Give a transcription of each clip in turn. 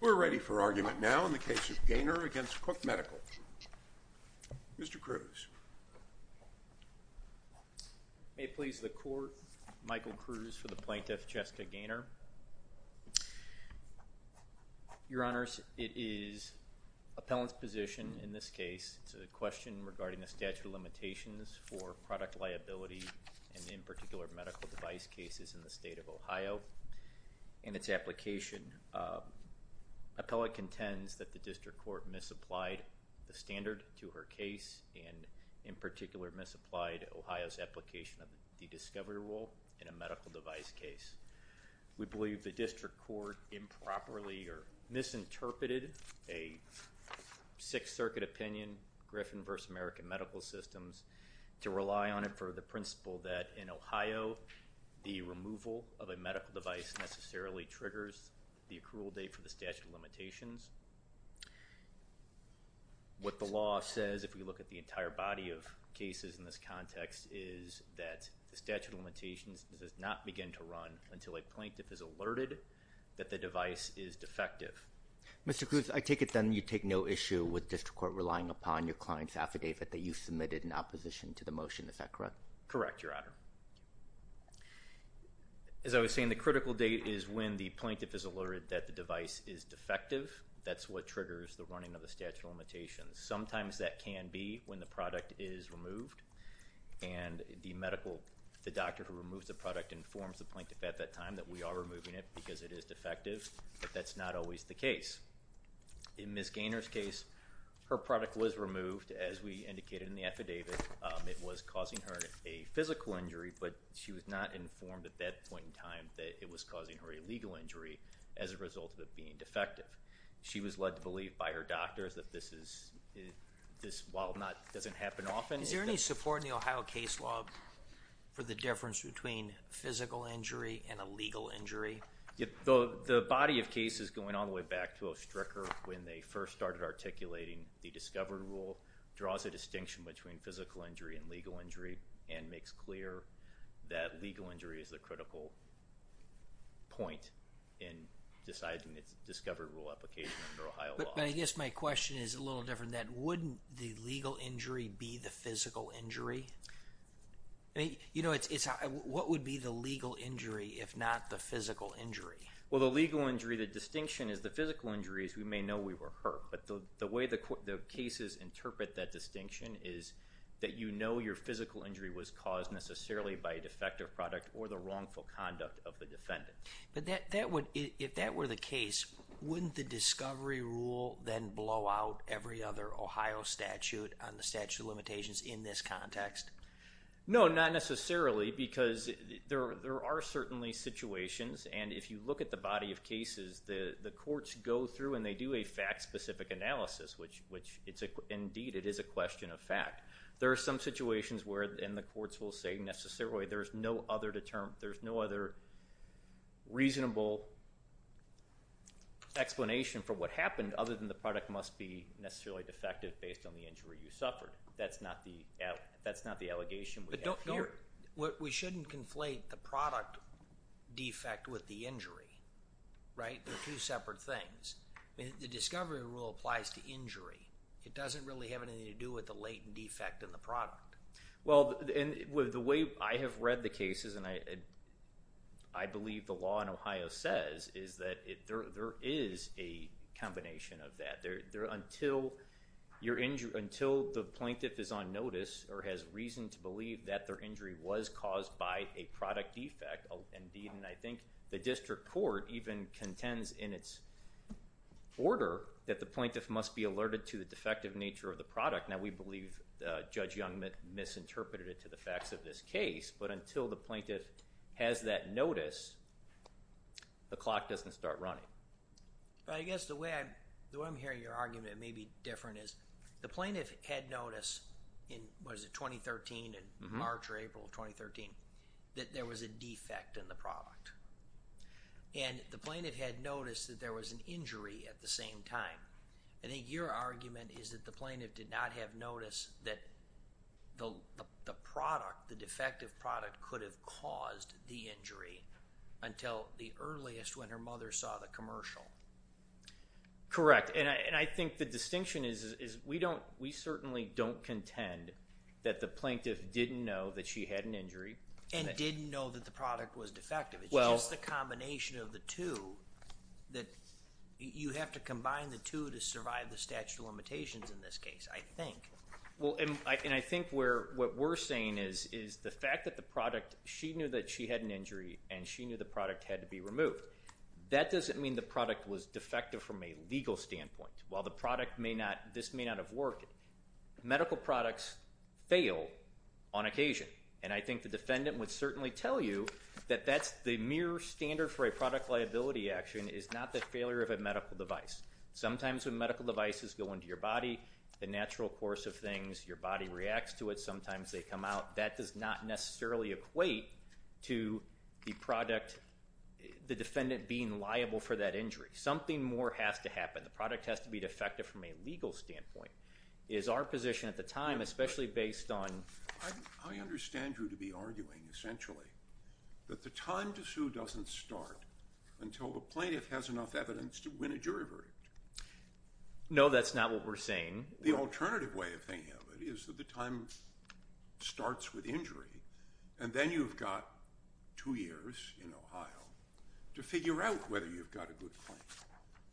We're ready for argument now in the case of Gehner v. Cook Medical. Mr. Cruz. May it please the Court, Michael Cruz for the plaintiff, Jessica Gehner. Your Honors, it is appellant's position in this case, it's a question regarding the statute of limitations for product liability and in particular medical device cases in the state of Ohio and its application. Appellant contends that the District Court misapplied the standard to her case and in particular misapplied Ohio's application of the discovery rule in a medical device case. We believe the District Court improperly or misinterpreted a Sixth Circuit opinion, Griffin v. American Medical Systems to rely on it for the principle that in Ohio the removal of a medical device necessarily triggers the accrual date for the statute of limitations. What the law says, if we look at the entire body of cases in this context, is that the statute of limitations does not begin to run until a plaintiff is alerted that the device is defective. Mr. Cruz, I take it then you take no issue with District Court relying upon your client's affidavit that you submitted in opposition to the motion, is that correct? Correct, Your Honor. As I was saying, the critical date is when the plaintiff is alerted that the device is defective, that's what triggers the running of the statute of limitations. Sometimes that can be when the product is removed and the medical, the doctor who removes the product informs the plaintiff at that time that we are removing it because it is defective, but that's not always the case. In Ms. Gaynor's case, her product was removed as we indicated in the affidavit. It was causing her a physical injury, but she was not informed at that point in time that it was causing her a legal injury as a result of it being defective. She was led to believe by her doctors that this is, this while not, doesn't happen often. Is there any support in the Ohio case law for the difference between physical injury and a legal injury? The body of cases going all the way back to Ostricker when they first started articulating the discovered rule draws a distinction between physical injury and legal injury and makes clear that legal injury is the critical point in deciding the discovered rule application under Ohio law. But I guess my question is a little different than that. Wouldn't the legal injury be the physical injury? I mean, you know, it's, what would be the legal injury if not the physical injury? Well, the legal injury, the distinction is the physical injury is we may know we were hurt, but the way the cases interpret that distinction is that you know your physical injury was caused necessarily by a defective product or the wrongful conduct of the defendant. But that would, if that were the case, wouldn't the discovery rule then blow out every other Ohio statute on the statute of limitations in this context? No, not necessarily because there are certainly situations, and if you look at the body of cases, the courts go through and they do a fact-specific analysis, which indeed it is a question of fact. There are some situations where, and the courts will say necessarily, there's no other reasonable explanation for what happened other than the product must be necessarily defective based on the injury you suffered. That's not the, that's not the allegation we have here. We shouldn't conflate the product defect with the injury, right? They're two separate things. I mean, the discovery rule applies to injury. It doesn't really have anything to do with the latent defect in the product. Well, and with the way I have read the cases, and I believe the law in Ohio says is that there is a combination of that. Until the plaintiff is on notice or has reason to believe that their injury was caused by a product defect, indeed, and I think the district court even contends in its order that the plaintiff must be alerted to the defective nature of the product. Now we believe Judge Young misinterpreted it to the facts of this case, but until the Well, I guess the way I'm hearing your argument may be different is the plaintiff had noticed in, what is it, 2013, in March or April of 2013, that there was a defect in the product. And the plaintiff had noticed that there was an injury at the same time. I think your argument is that the plaintiff did not have noticed that the product, the commercial. Correct. And I think the distinction is we don't, we certainly don't contend that the plaintiff didn't know that she had an injury. And didn't know that the product was defective. It's just the combination of the two that you have to combine the two to survive the statute of limitations in this case, I think. Well, and I think where, what we're saying is the fact that the product, she knew that she had an injury and she knew the product had to be removed. That doesn't mean the product was defective from a legal standpoint. While the product may not, this may not have worked, medical products fail on occasion. And I think the defendant would certainly tell you that that's the mere standard for a product liability action is not the failure of a medical device. Sometimes when medical devices go into your body, the natural course of things, your body reacts to it, sometimes they come out. That does not necessarily equate to the product, the defendant being liable for that injury. Something more has to happen. The product has to be defective from a legal standpoint is our position at the time, especially based on. I understand you to be arguing essentially that the time to sue doesn't start until the plaintiff has enough evidence to win a jury verdict. No that's not what we're saying. The alternative way of thinking of it is that the time starts with injury and then you've got two years in Ohio to figure out whether you've got a good claim.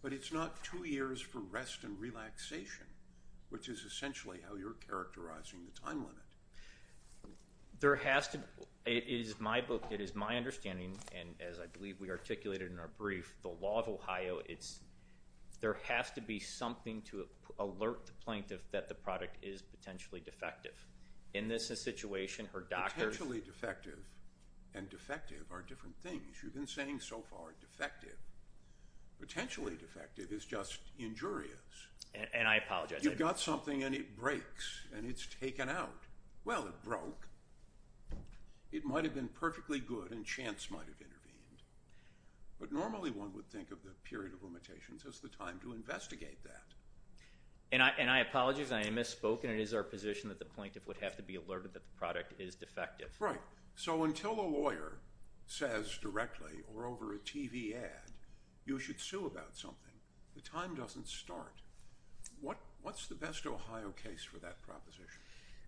But it's not two years for rest and relaxation, which is essentially how you're characterizing the time limit. There has to, it is my book, it is my understanding, and as I believe we articulated in our brief, the law of Ohio, there has to be something to alert the plaintiff that the product is potentially defective. In this situation, her doctor. Potentially defective and defective are different things. You've been saying so far defective. Potentially defective is just injurious. And I apologize. You've got something and it breaks and it's taken out. Well it broke. It might have been perfectly good and chance might have intervened. But normally one would think of the period of limitations as the time to investigate that. And I apologize. I misspoke. And it is our position that the plaintiff would have to be alerted that the product is defective. Right. So until a lawyer says directly or over a TV ad, you should sue about something, the time doesn't start. What's the best Ohio case for that proposition?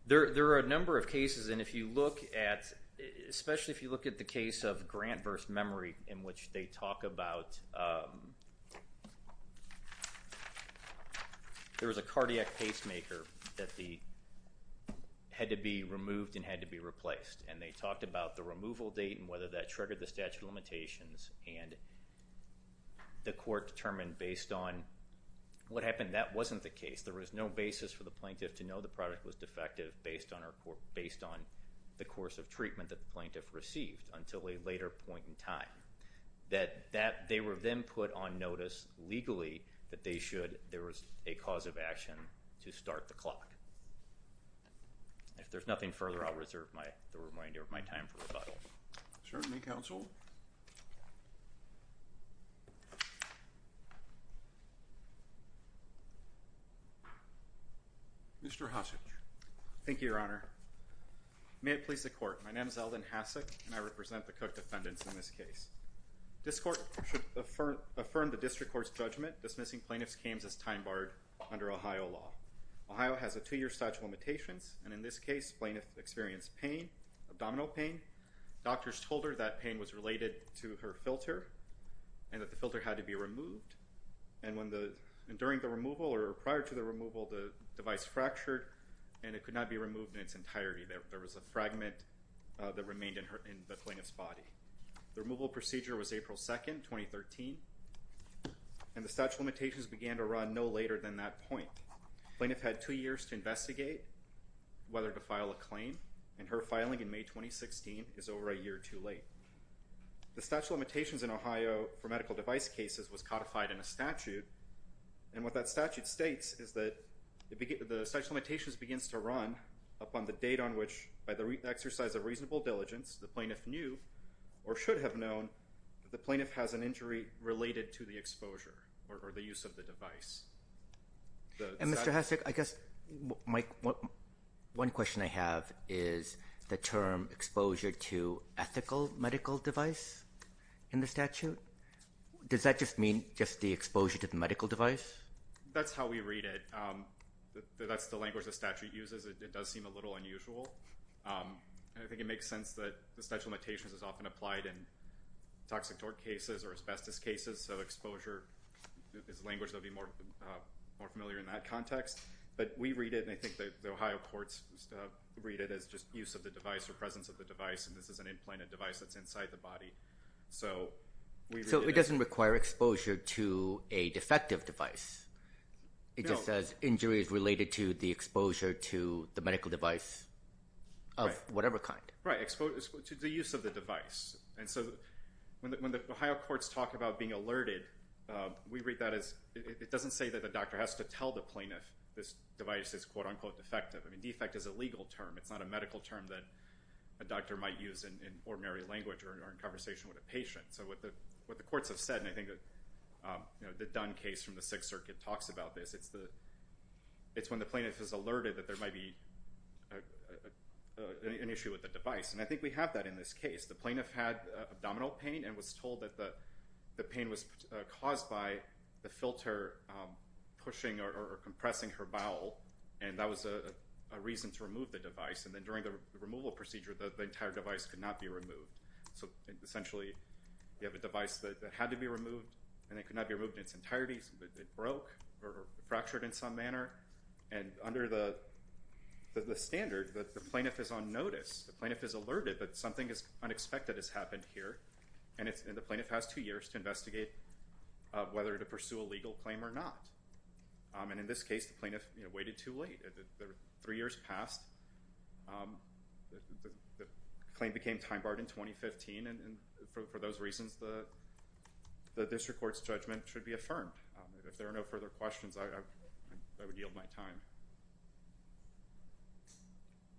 There are a number of cases and if you look at, especially if you look at the case of Grant v. Memory in which they talk about, there was a cardiac pacemaker that had to be removed and had to be replaced. And they talked about the removal date and whether that triggered the statute of limitations. And the court determined based on what happened, that wasn't the case. There was no basis for the plaintiff to know the product was defective based on the course of treatment that the plaintiff received until a later point in time. That they were then put on notice legally that there was a cause of action to start the clock. If there's nothing further, I'll reserve the reminder of my time for rebuttal. Certainly, counsel. Mr. Hossage. Thank you, Your Honor. May it please the court. My name is Eldon Hassack and I represent the Cook defendants in this case. This court should affirm the district court's judgment dismissing plaintiff's claims as time barred under Ohio law. Ohio has a two-year statute of limitations and in this case, plaintiff experienced pain, abdominal pain. Doctors told her that pain was related to her filter and that the filter had to be removed. And when the, during the removal or prior to the removal, the device fractured and it could not be removed in its entirety. There was a fragment that remained in the plaintiff's body. The removal procedure was April 2nd, 2013 and the statute of limitations began to run no later than that point. Plaintiff had two years to investigate whether to file a claim and her filing in May 2016 is over a year too late. The statute of limitations in Ohio for medical device cases was codified in a statute and what that statute states is that the statute of limitations begins to run upon the date on which, by the exercise of reasonable diligence, the plaintiff knew or should have known that the plaintiff has an injury related to the exposure or the use of the device. And Mr. Hassack, I guess, one question I have is the term exposure to ethical medical device in the statute. Does that just mean just the exposure to the medical device? That's how we read it. That's the language the statute uses. It does seem a little unusual. And I think it makes sense that the statute of limitations is often applied in toxic torque cases or asbestos cases, so exposure is language that would be more familiar in that context. But we read it and I think the Ohio courts read it as just use of the device or presence So it doesn't require exposure to a defective device. It just says injury is related to the exposure to the medical device of whatever kind. Right, to the use of the device. And so when the Ohio courts talk about being alerted, we read that as, it doesn't say that the doctor has to tell the plaintiff this device is quote unquote defective. I mean defect is a legal term. It's not a medical term that a doctor might use in ordinary language or in conversation with a patient. So what the courts have said, and I think the Dunn case from the Sixth Circuit talks about this, it's when the plaintiff is alerted that there might be an issue with the device. And I think we have that in this case. The plaintiff had abdominal pain and was told that the pain was caused by the filter pushing or compressing her bowel and that was a reason to remove the device and then during the removal procedure the entire device could not be removed. So essentially you have a device that had to be removed and it could not be removed in its entirety. It broke or fractured in some manner. And under the standard, the plaintiff is on notice, the plaintiff is alerted that something is unexpected has happened here and the plaintiff has two years to investigate whether to pursue a legal claim or not. And in this case the plaintiff waited too late. Three years passed. The claim became time barred in 2015 and for those reasons the district court's judgment should be affirmed. If there are no further questions, I would yield my time.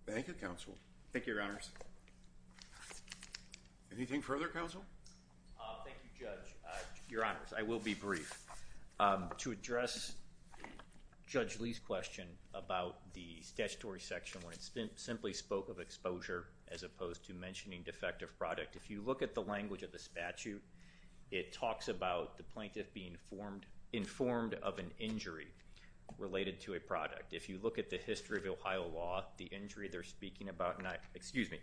Thank you, counsel. Thank you, your honors. Anything further, counsel? Thank you, judge. Your honors, I will be brief. To address Judge Lee's question about the statutory section where it simply spoke of exposure as opposed to mentioning defective product, if you look at the language of the statute, it talks about the plaintiff being informed of an injury related to a product. If you look at the history of Ohio law, the injury they're speaking about, excuse me,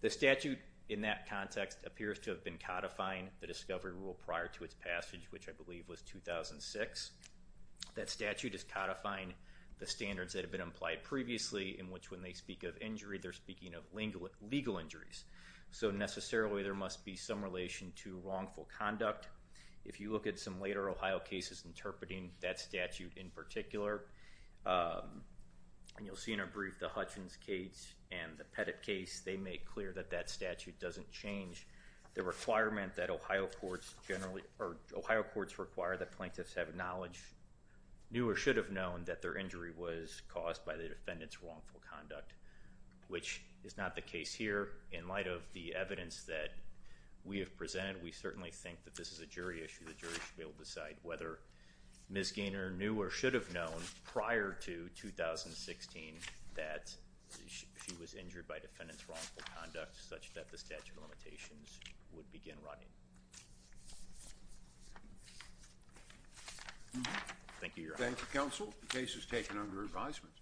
the statute in that context appears to have been codifying the discovery rule prior to its passage, which I believe was 2006. That statute is codifying the standards that have been implied previously in which when they speak of injury, they're speaking of legal injuries. So necessarily there must be some relation to wrongful conduct. If you look at some later Ohio cases interpreting that statute in particular, and you'll see in a brief the Hutchins case and the Pettit case, they make clear that that statute doesn't change the requirement that Ohio courts generally, or Ohio courts require that plaintiffs have knowledge, knew or should have known that their injury was caused by the defendant's wrongful conduct, which is not the case here. In light of the evidence that we have presented, we certainly think that this is a jury issue. The jury should be able to decide whether Ms. Gaynor knew or should have known prior to 2016 that she was injured by defendant's wrongful conduct such that the statute of limitations would begin running. Thank you, Your Honor. Thank you, counsel. The case is taken under advisement.